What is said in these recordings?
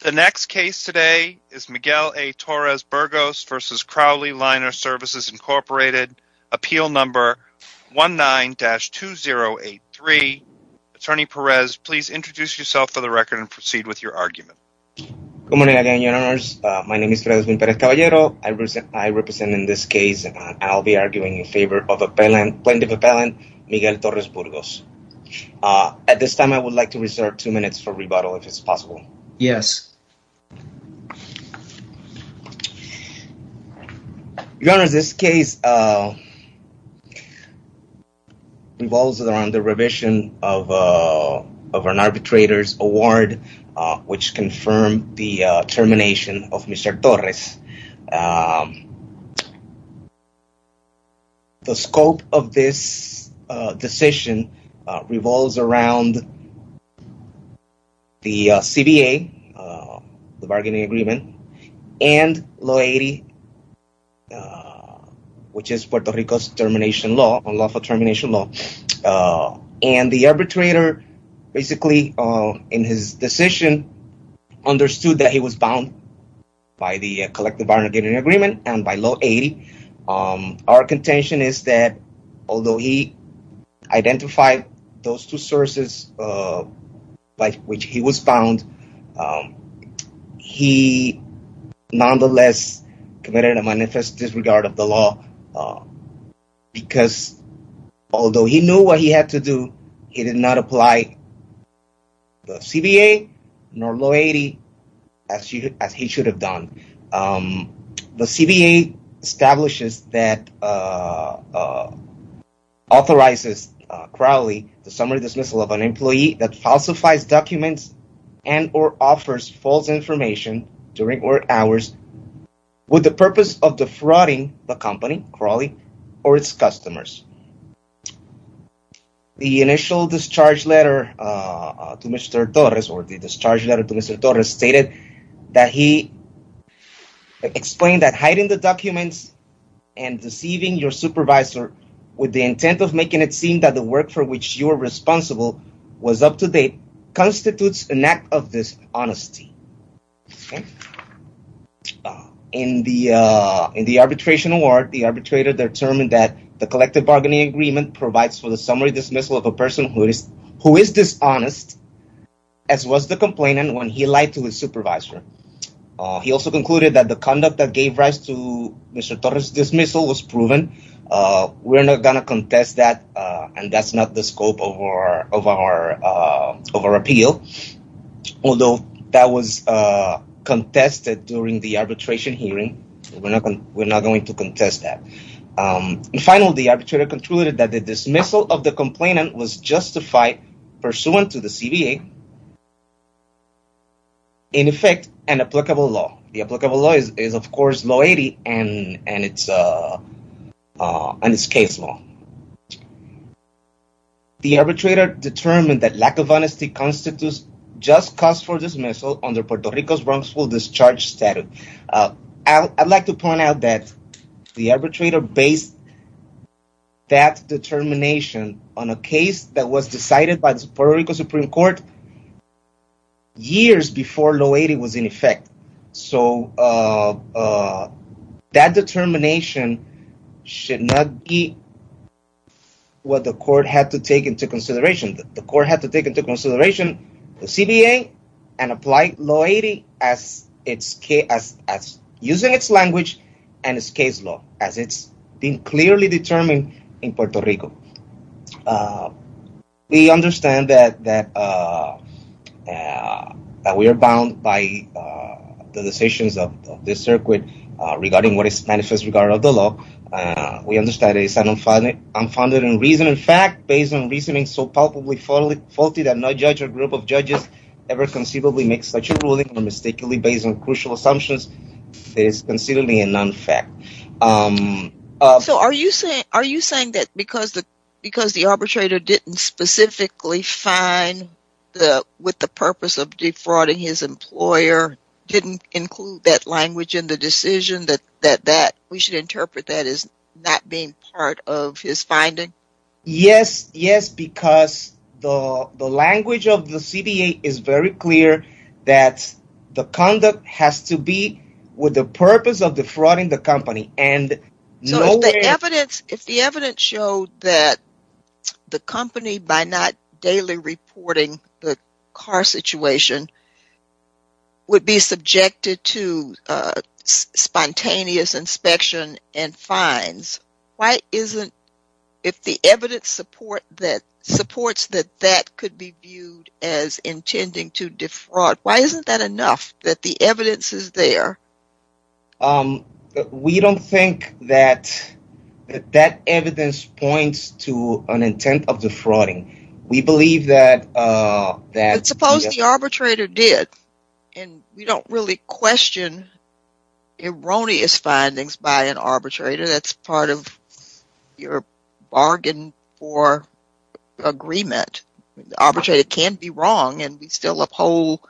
The next case today is Miguel A. Torres-Burgos v. Crowley Liner Services, Inc., Appeal Number 19-2083. Attorney Perez, please introduce yourself for the record and proceed with your argument. Good morning, Your Honors. My name is Frederick Pérez Caballero. I represent in this case, and I'll be arguing in favor of plenty of appellant, Miguel Torres-Burgos. At this time, I would like to reserve two minutes for rebuttal, if it's possible. Yes. Your Honors, this case revolves around the revision of an arbitrator's award, which confirmed the termination of Mr. Torres. The scope of this decision revolves around the CBA, the bargaining agreement, and Law 80, which is Puerto Rico's termination law, unlawful termination law. And the arbitrator, basically, in his decision, understood that he was bound by the collective bargaining agreement and by Law 80. Our contention is that although he identified those two sources by which he was bound, he knew what he had to do. He did not apply the CBA nor Law 80, as he should have done. The CBA establishes that, authorizes Crowley the summary dismissal of an employee that falsifies documents and or offers false information during work hours with the purpose of defrauding the company, Crowley, or its customers. The initial discharge letter to Mr. Torres stated that he explained that hiding the documents and deceiving your supervisor with the intent of making it seem that the work for which you are responsible was up to date constitutes an act of dishonesty. In the arbitration award, the arbitrator determined that the collective bargaining agreement provides for the summary dismissal of a person who is dishonest, as was the complainant when he lied to his supervisor. He also concluded that the conduct that gave rise to Mr. Torres' dismissal was proven. We're not going to contest that, and that's not the scope of our appeal. Although that was contested during the arbitration hearing, we're not going to contest that. Finally, the arbitrator concluded that the dismissal of the complainant was justified pursuant to the CBA, in effect, an applicable law. The applicable law is, of course, Law 80 and its case law. Finally, the arbitrator determined that lack of honesty constitutes just cause for dismissal under Puerto Rico's wrongful discharge statute. I'd like to point out that the arbitrator based that determination on a case that was decided by the Puerto Rico Supreme Court years before Law 80 was in effect. So, that determination should not be what the court had to take into consideration. The court had to take into consideration the CBA and apply Law 80 as using its language and its case law, as it's been clearly determined in Puerto Rico. We understand that we are bound by the decisions of this circuit regarding what is manifest regardless of the law. We understand that it is unfounded in reason and fact, based on reasoning so palpably faulty that no judge or group of judges ever conceivably makes such a ruling, or mistakenly based on crucial assumptions, that it is considerably a non-fact. So, are you saying that because the arbitrator didn't specifically find, with the purpose of defrauding his employer, didn't include that language in the decision, that we should interpret that as not being part of his finding? Yes, because the language of the CBA is very clear that the conduct has to be with the company. So, if the evidence showed that the company, by not daily reporting the car situation, would be subjected to spontaneous inspection and fines, if the evidence supports that that could be viewed as intending to defraud, why isn't that enough, that the evidence is there? We don't think that that evidence points to an intent of defrauding. We believe that... But suppose the arbitrator did, and we don't really question erroneous findings by an arbitrator that's part of your bargain for agreement, the arbitrator can be wrong and we still uphold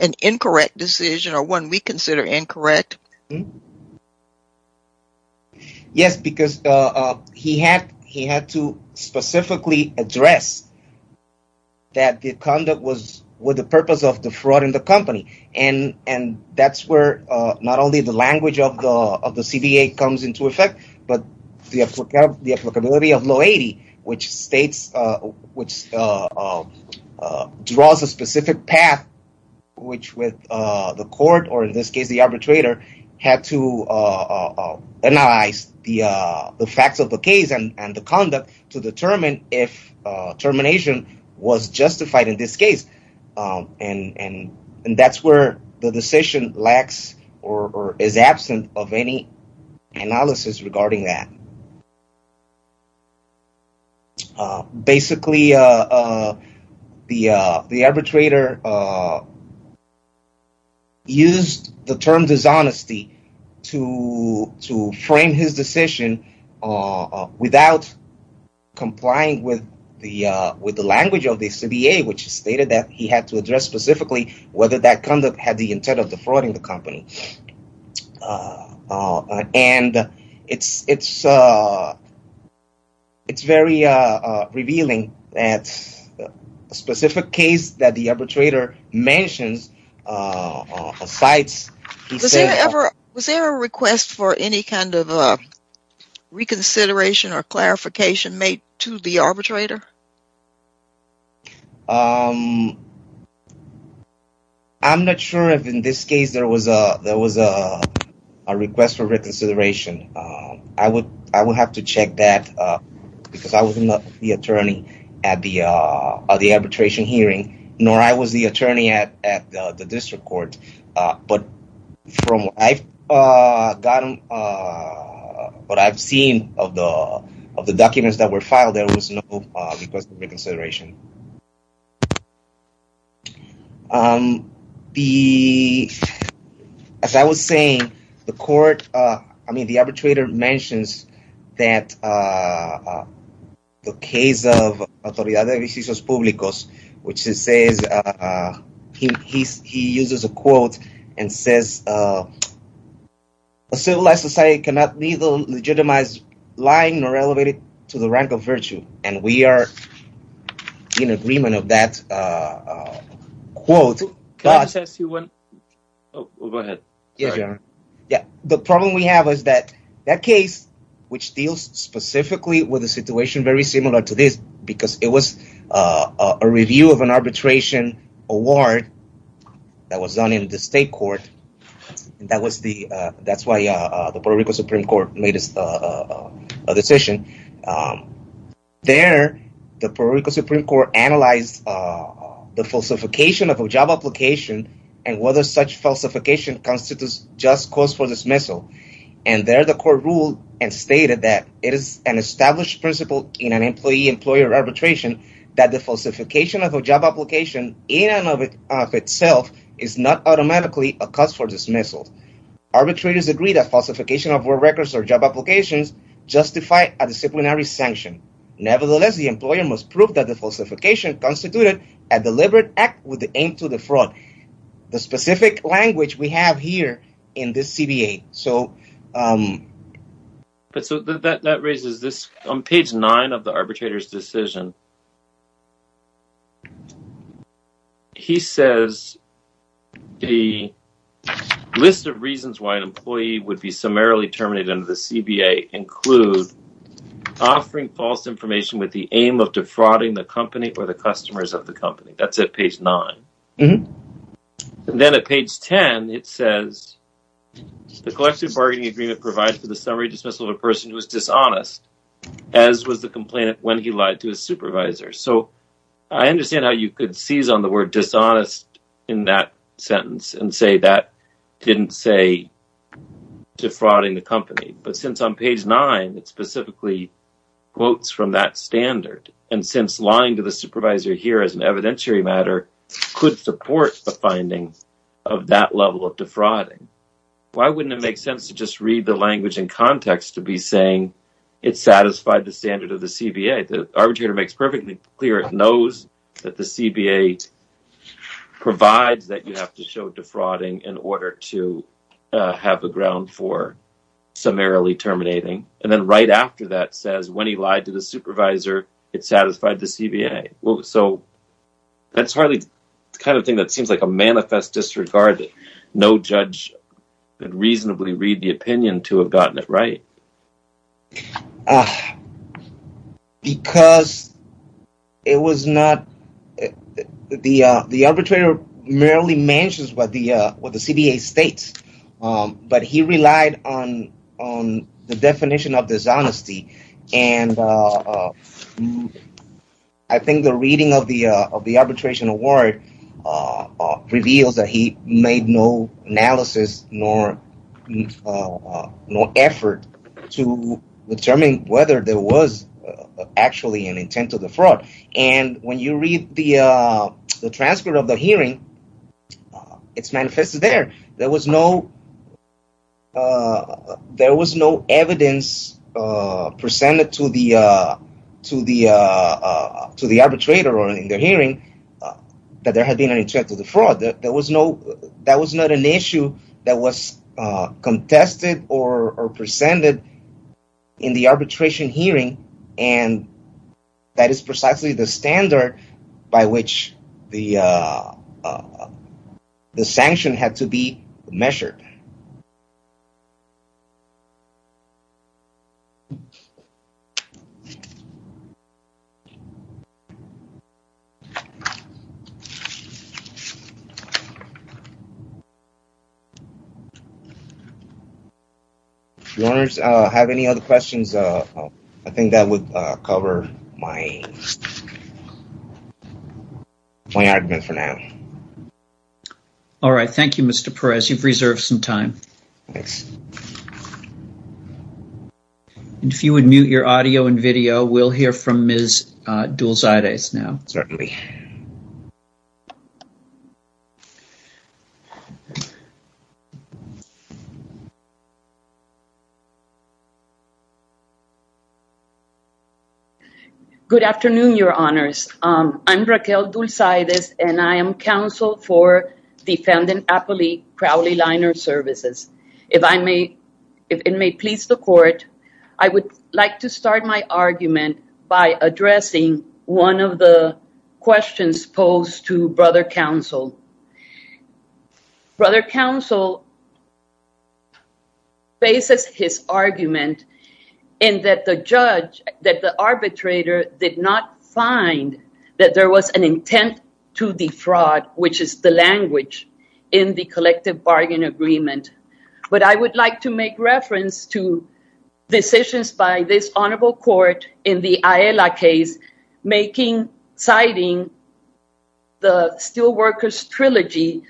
an incorrect decision, or one we consider incorrect. Yes, because he had to specifically address that the conduct was with the purpose of defrauding the company. And that's where not only the language of the CBA comes into effect, but the applicability of law 80, which draws a specific path, which with the court, or in this case the arbitrator, had to analyze the facts of the case and the conduct to determine if termination was justified in this case. And that's where the decision lacks or is absent of any analysis regarding that. Basically, the arbitrator used the term dishonesty to frame his decision without complying with the language of the CBA, which stated that he had to address specifically whether that conduct had the intent of defrauding the company. And it's very revealing that a specific case that the arbitrator mentions, or cites, he says... Was there a request for any kind of reconsideration or clarification made to the arbitrator? I'm not sure if in this case there was a request for reconsideration. I would have to check that because I was not the attorney at the arbitration hearing, nor I was the attorney at the district court. But from what I've seen of the documents that were filed, there was no request for reconsideration. As I was saying, the arbitrator mentions that the case of Autoridad de Vecinos Públicos, which he uses a quote and says, A civilized society cannot neither legitimize lying nor elevate it to the rank of virtue. And we are in agreement of that quote. The problem we have is that that case, which deals specifically with a situation very similar to this, because it was a review of an arbitration award that was done in the state court. That's why the Puerto Rico Supreme Court made a decision. There, the Puerto Rico Supreme Court analyzed the falsification of a job application and whether such falsification constitutes just cause for dismissal. And there the court ruled and stated that it is an established principle in an employee-employer arbitration that the falsification of a job application in and of itself is not automatically a cause for dismissal. Arbitrators agree that falsification of work records or job applications justify a disciplinary sanction. Nevertheless, the employer must prove that the falsification constituted a deliberate act with the aim to defraud. The specific language we have here in this CBA, so. But so that that raises this on page nine of the arbitrator's decision. He says the list of reasons why an employee would be summarily terminated in the CBA include offering false information with the aim of defrauding the company or the customers of the company. That's at page nine. Then at page 10, it says the collective bargaining agreement provides for the summary dismissal of a person who is dishonest, as was the complainant when he lied to his supervisor. So I understand how you could seize on the word dishonest in that sentence and say that didn't say defrauding the company. But since on page nine, it specifically quotes from that standard and since lying to the supervisor here is an evidentiary matter, could support the findings of that level of defrauding. Why wouldn't it make sense to just read the language in context to be saying it satisfied the standard of the CBA? The arbitrator makes perfectly clear it knows that the CBA provides that you have to show defrauding in order to have a ground for summarily terminating. And then right after that says when he lied to the supervisor, it satisfied the CBA. So that's hardly the kind of thing that seems like a manifest disregard. No judge could reasonably read the opinion to have gotten it right. Because it was not the the arbitrator merely mentions what the what the CBA states, but he relied on on the definition of dishonesty. And I think the reading of the of the arbitration award reveals that he made no analysis nor no effort to determine whether there was actually an intent to defraud. And when you read the transcript of the hearing, it's manifested there. There was no there was no evidence presented to the to the to the arbitrator or in the hearing that there had been an intent to defraud. That was not an issue that was contested or presented in the arbitration hearing. And that is precisely the standard by which the the sanction had to be measured. Do you have any other questions? I think that would cover my argument for now. All right. Thank you, Mr. Perez. You've reserved some time. Thanks. And if you would mute your audio and video, we'll hear from Ms. Dulcides now. Certainly. Good afternoon, your honors. I'm Raquel Dulcides and I am counsel for Defendant Appley Crowley Liner Services. If I may, if it may please the court, I would like to start my argument by addressing one of the questions posed to Brother Counsel. Brother Counsel. Bases his argument in that the judge that the arbitrator did not find that there was an intent to defraud, which is the language in the collective bargain agreement. But I would like to make reference to decisions by this honorable court in the Ayala case making citing the Steelworkers Trilogy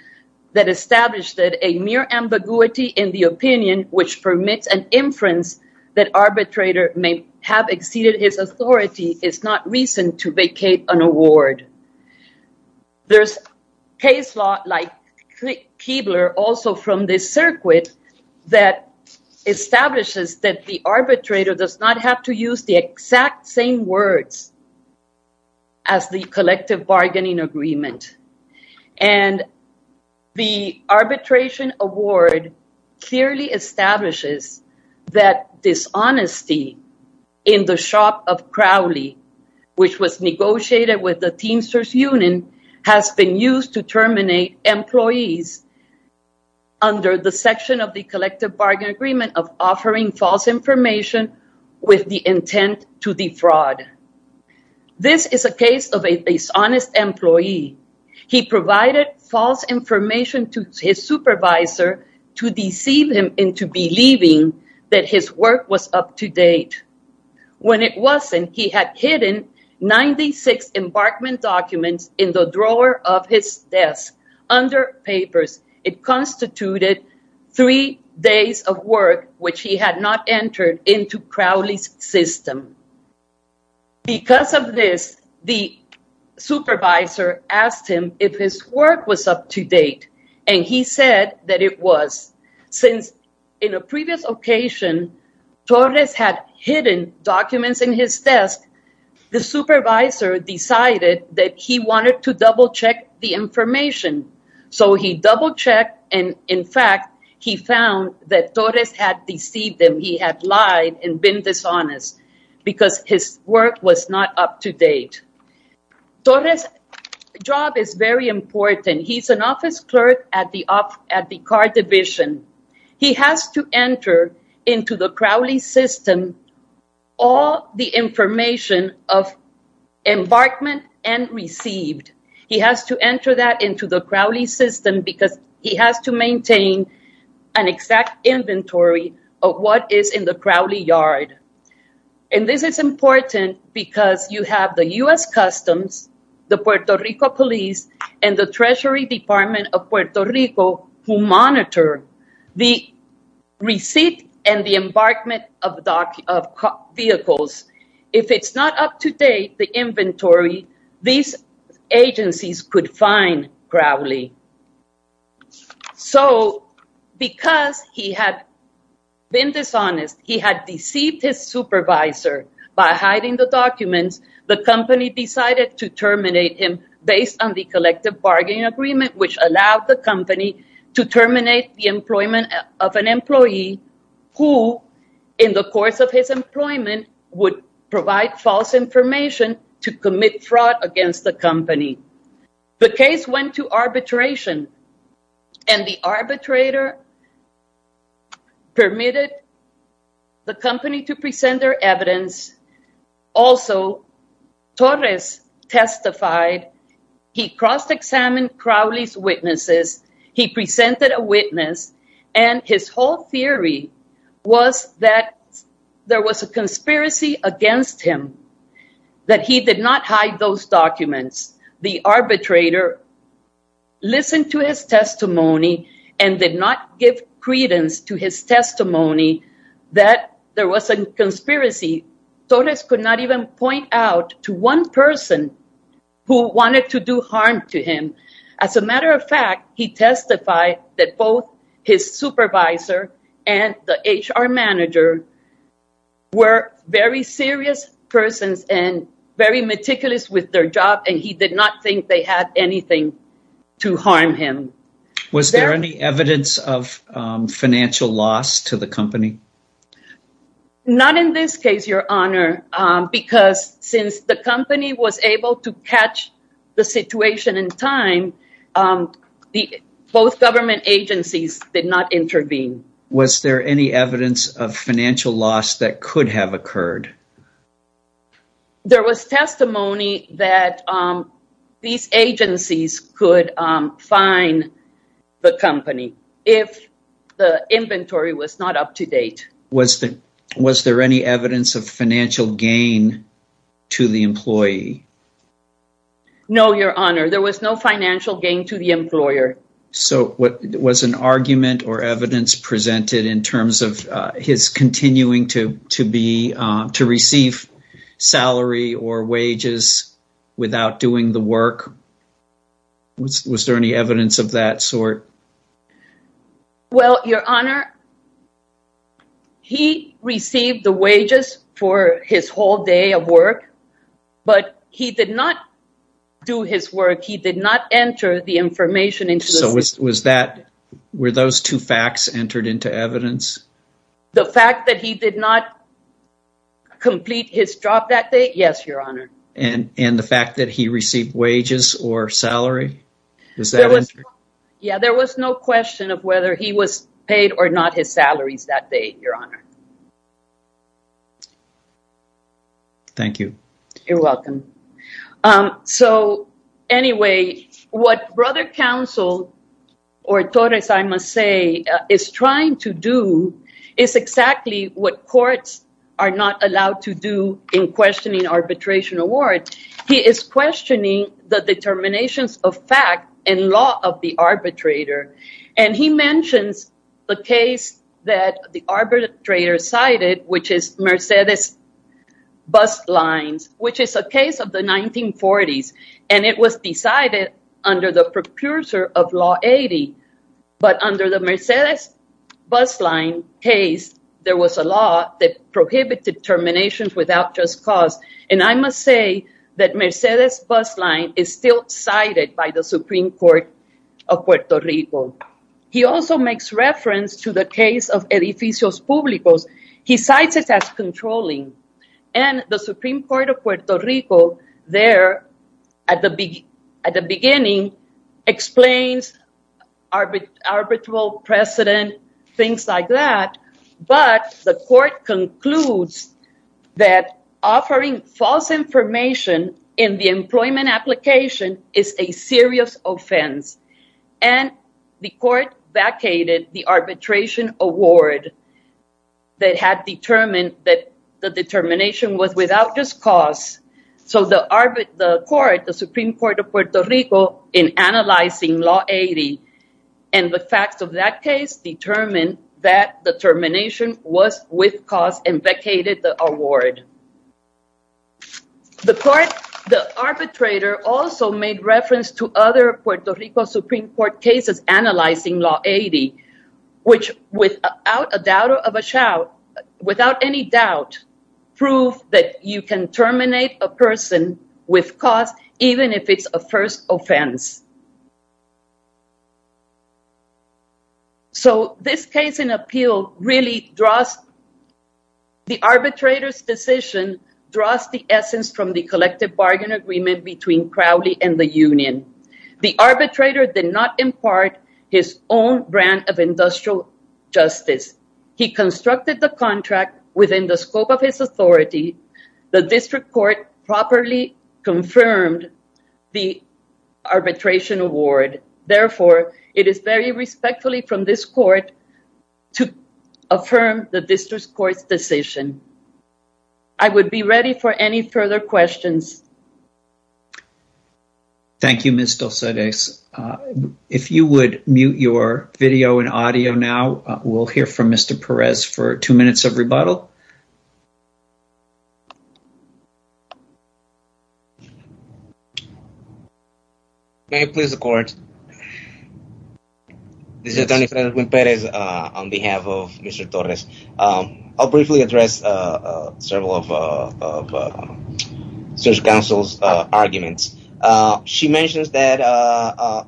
that established that a mere ambiguity in the opinion which permits an inference that arbitrator may have exceeded his authority is not reason to vacate an award. There's case law like Keebler also from this circuit that establishes that the arbitrator does not have to use the exact same words as the collective bargaining agreement. And the arbitration award clearly establishes that dishonesty in the shop of Crowley, which was negotiated with the Teamsters Union, has been used to terminate employees under the section of the collective bargain agreement of offering false information with the intent to defraud. This is a case of a dishonest employee. He provided false information to his supervisor to deceive him into believing that his work was up to date. When it wasn't, he had hidden 96 embarkment documents in the drawer of his desk under papers. It constituted three days of work, which he had not entered into Crowley's system. Because of this, the supervisor asked him if his work was up to date, and he said that it was. Torres' job is very important. He's an office clerk at the car division. He has to enter into the Crowley system all the information of embarkment and received. He has to enter that into the Crowley system because he has to maintain an exact inventory of what is in the Crowley yard. And this is important because you have the U.S. Customs, the Puerto Rico police, and the Treasury Department of Puerto Rico who monitor the receipt and the embarkment of vehicles. If it's not up to date, the inventory, these agencies could fine Crowley. So because he had been dishonest, he had deceived his supervisor by hiding the documents, the company decided to terminate him based on the collective bargaining agreement, which allowed the company to terminate the employment of an employee who, in the course of his employment, would provide false information to commit fraud against the company. The case went to arbitration, and the arbitrator permitted the company to present their evidence. Also, Torres testified, he cross-examined Crowley's witnesses, he presented a witness, and his whole theory was that there was a conspiracy against him, that he did not hide those documents. The arbitrator listened to his testimony and did not give credence to his testimony that there was a conspiracy. Torres could not even point out to one person who wanted to do harm to him. As a matter of fact, he testified that both his supervisor and the HR manager were very serious persons and very meticulous with their job, and he did not think they had anything to harm him. Was there any evidence of financial loss to the company? Not in this case, Your Honor, because since the company was able to catch the situation in time, both government agencies did not intervene. Was there any evidence of financial loss that could have occurred? There was testimony that these agencies could fine the company if the inventory was not up to date. Was there any evidence of financial gain to the employee? No, Your Honor, there was no financial gain to the employer. Was an argument or evidence presented in terms of his continuing to receive salary or wages without doing the work? Was there any evidence of that sort? Well, Your Honor, he received the wages for his whole day of work, but he did not do his work. He did not enter the information into the system. Were those two facts entered into evidence? The fact that he did not complete his job that day, yes, Your Honor. And the fact that he received wages or salary? Yeah, there was no question of whether he was paid or not his salaries that day, Your Honor. Thank you. You're welcome. So anyway, what Brother Counsel or Torres, I must say, is trying to do is exactly what courts are not allowed to do in questioning arbitration award. He is questioning the determinations of fact and law of the arbitrator. And he mentions the case that the arbitrator cited, which is Mercedes bus lines, which is a case of the 1940s. And it was decided under the precursor of Law 80. But under the Mercedes bus line case, there was a law that prohibited terminations without just cause. And I must say that Mercedes bus line is still cited by the Supreme Court of Puerto Rico. He also makes reference to the case of edificios publicos. He cites it as controlling. And the Supreme Court of Puerto Rico there at the beginning explains arbitral precedent, things like that. But the court concludes that offering false information in the employment application is a serious offense. And the court vacated the arbitration award that had determined that the determination was without just cause. So the court, the Supreme Court of Puerto Rico, in analyzing Law 80 and the facts of that case determined that the termination was with cause and vacated the award. The court, the arbitrator also made reference to other Puerto Rico Supreme Court cases analyzing Law 80, which without a doubt of a shout, without any doubt, prove that you can terminate a person with cause, even if it's a first offense. So this case in appeal really draws the arbitrator's decision, draws the essence from the collective bargain agreement between Crowley and the union. The arbitrator did not impart his own brand of industrial justice. He constructed the contract within the scope of his authority. The district court properly confirmed the arbitration award. Therefore, it is very respectfully from this court to affirm the district court's decision. I would be ready for any further questions. Thank you, Ms. Dulceres. If you would mute your video and audio now, we'll hear from Mr. Perez for two minutes of rebuttal. May it please the court. This is attorney Senator Will Perez on behalf of Mr. Torres. I'll briefly address several of the search council's arguments. She mentions that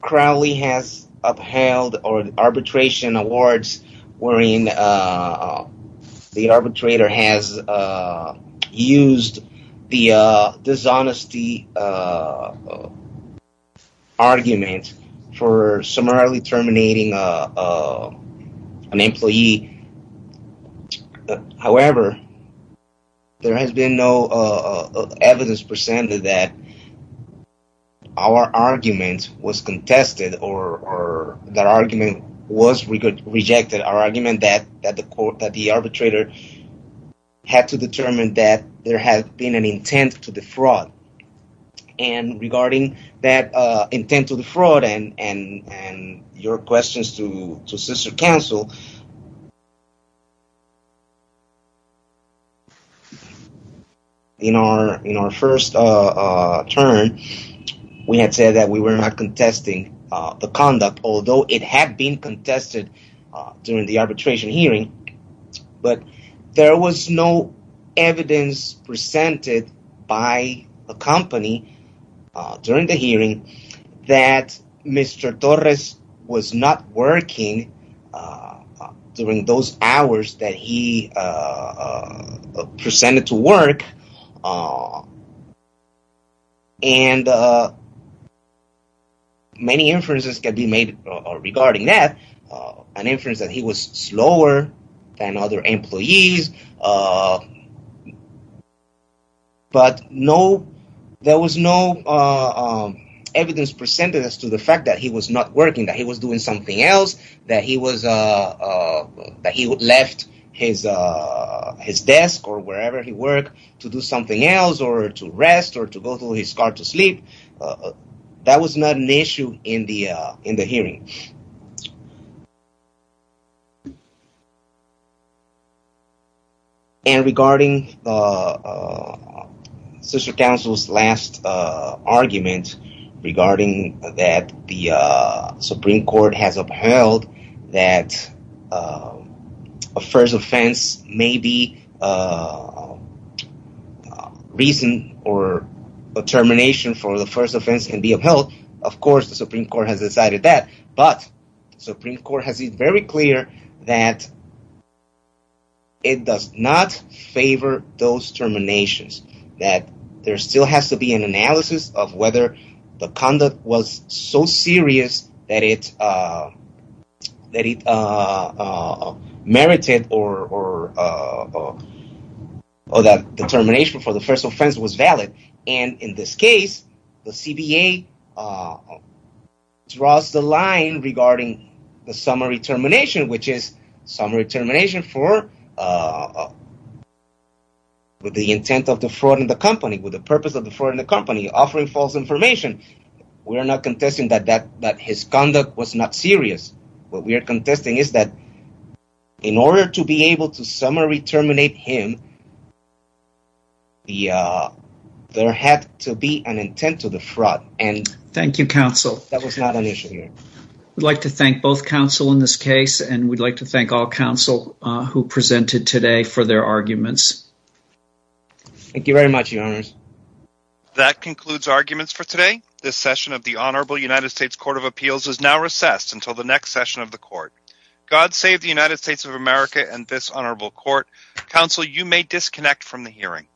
Crowley has upheld arbitration awards wherein the arbitrator has used the dishonesty argument for summarily terminating an employee. However, there has been no evidence presented that our argument was contested or that argument was rejected. Our argument that the arbitrator had to determine that there had been an intent to defraud. And regarding that intent to defraud and your questions to sister council. In our first turn, we had said that we were not contesting the conduct, although it had been contested during the arbitration hearing. But there was no evidence presented by a company during the hearing that Mr. Torres was not working during those hours that he presented to work. And. Many inferences can be made regarding that an inference that he was slower than other employees. But no, there was no evidence presented as to the fact that he was not working, that he was doing something else, that he was that he left his his desk or wherever he work to do something else or to rest or to go to his car to sleep. That was not an issue in the in the hearing. And regarding the sister council's last argument regarding that, the Supreme Court has upheld that a first offense may be a reason or a termination for the first offense and be upheld. Of course, the Supreme Court has decided that, but Supreme Court has it very clear that. It does not favor those terminations that there still has to be an analysis of whether the conduct was so serious that it that it merited or. Or that determination for the first offense was valid. And in this case, the CBA draws the line regarding the summary termination, which is summary termination for. With the intent of the fraud in the company, with the purpose of the fraud in the company offering false information, we're not contesting that that that his conduct was not serious. What we are contesting is that. In order to be able to summary terminate him. The there had to be an intent to the fraud, and thank you, counsel. That was not an issue here. We'd like to thank both counsel in this case, and we'd like to thank all counsel who presented today for their arguments. Thank you very much. That concludes arguments for today. This session of the Honorable United States Court of Appeals is now recessed until the next session of the court. God save the United States of America and this honorable court. Counsel, you may disconnect from the hearing.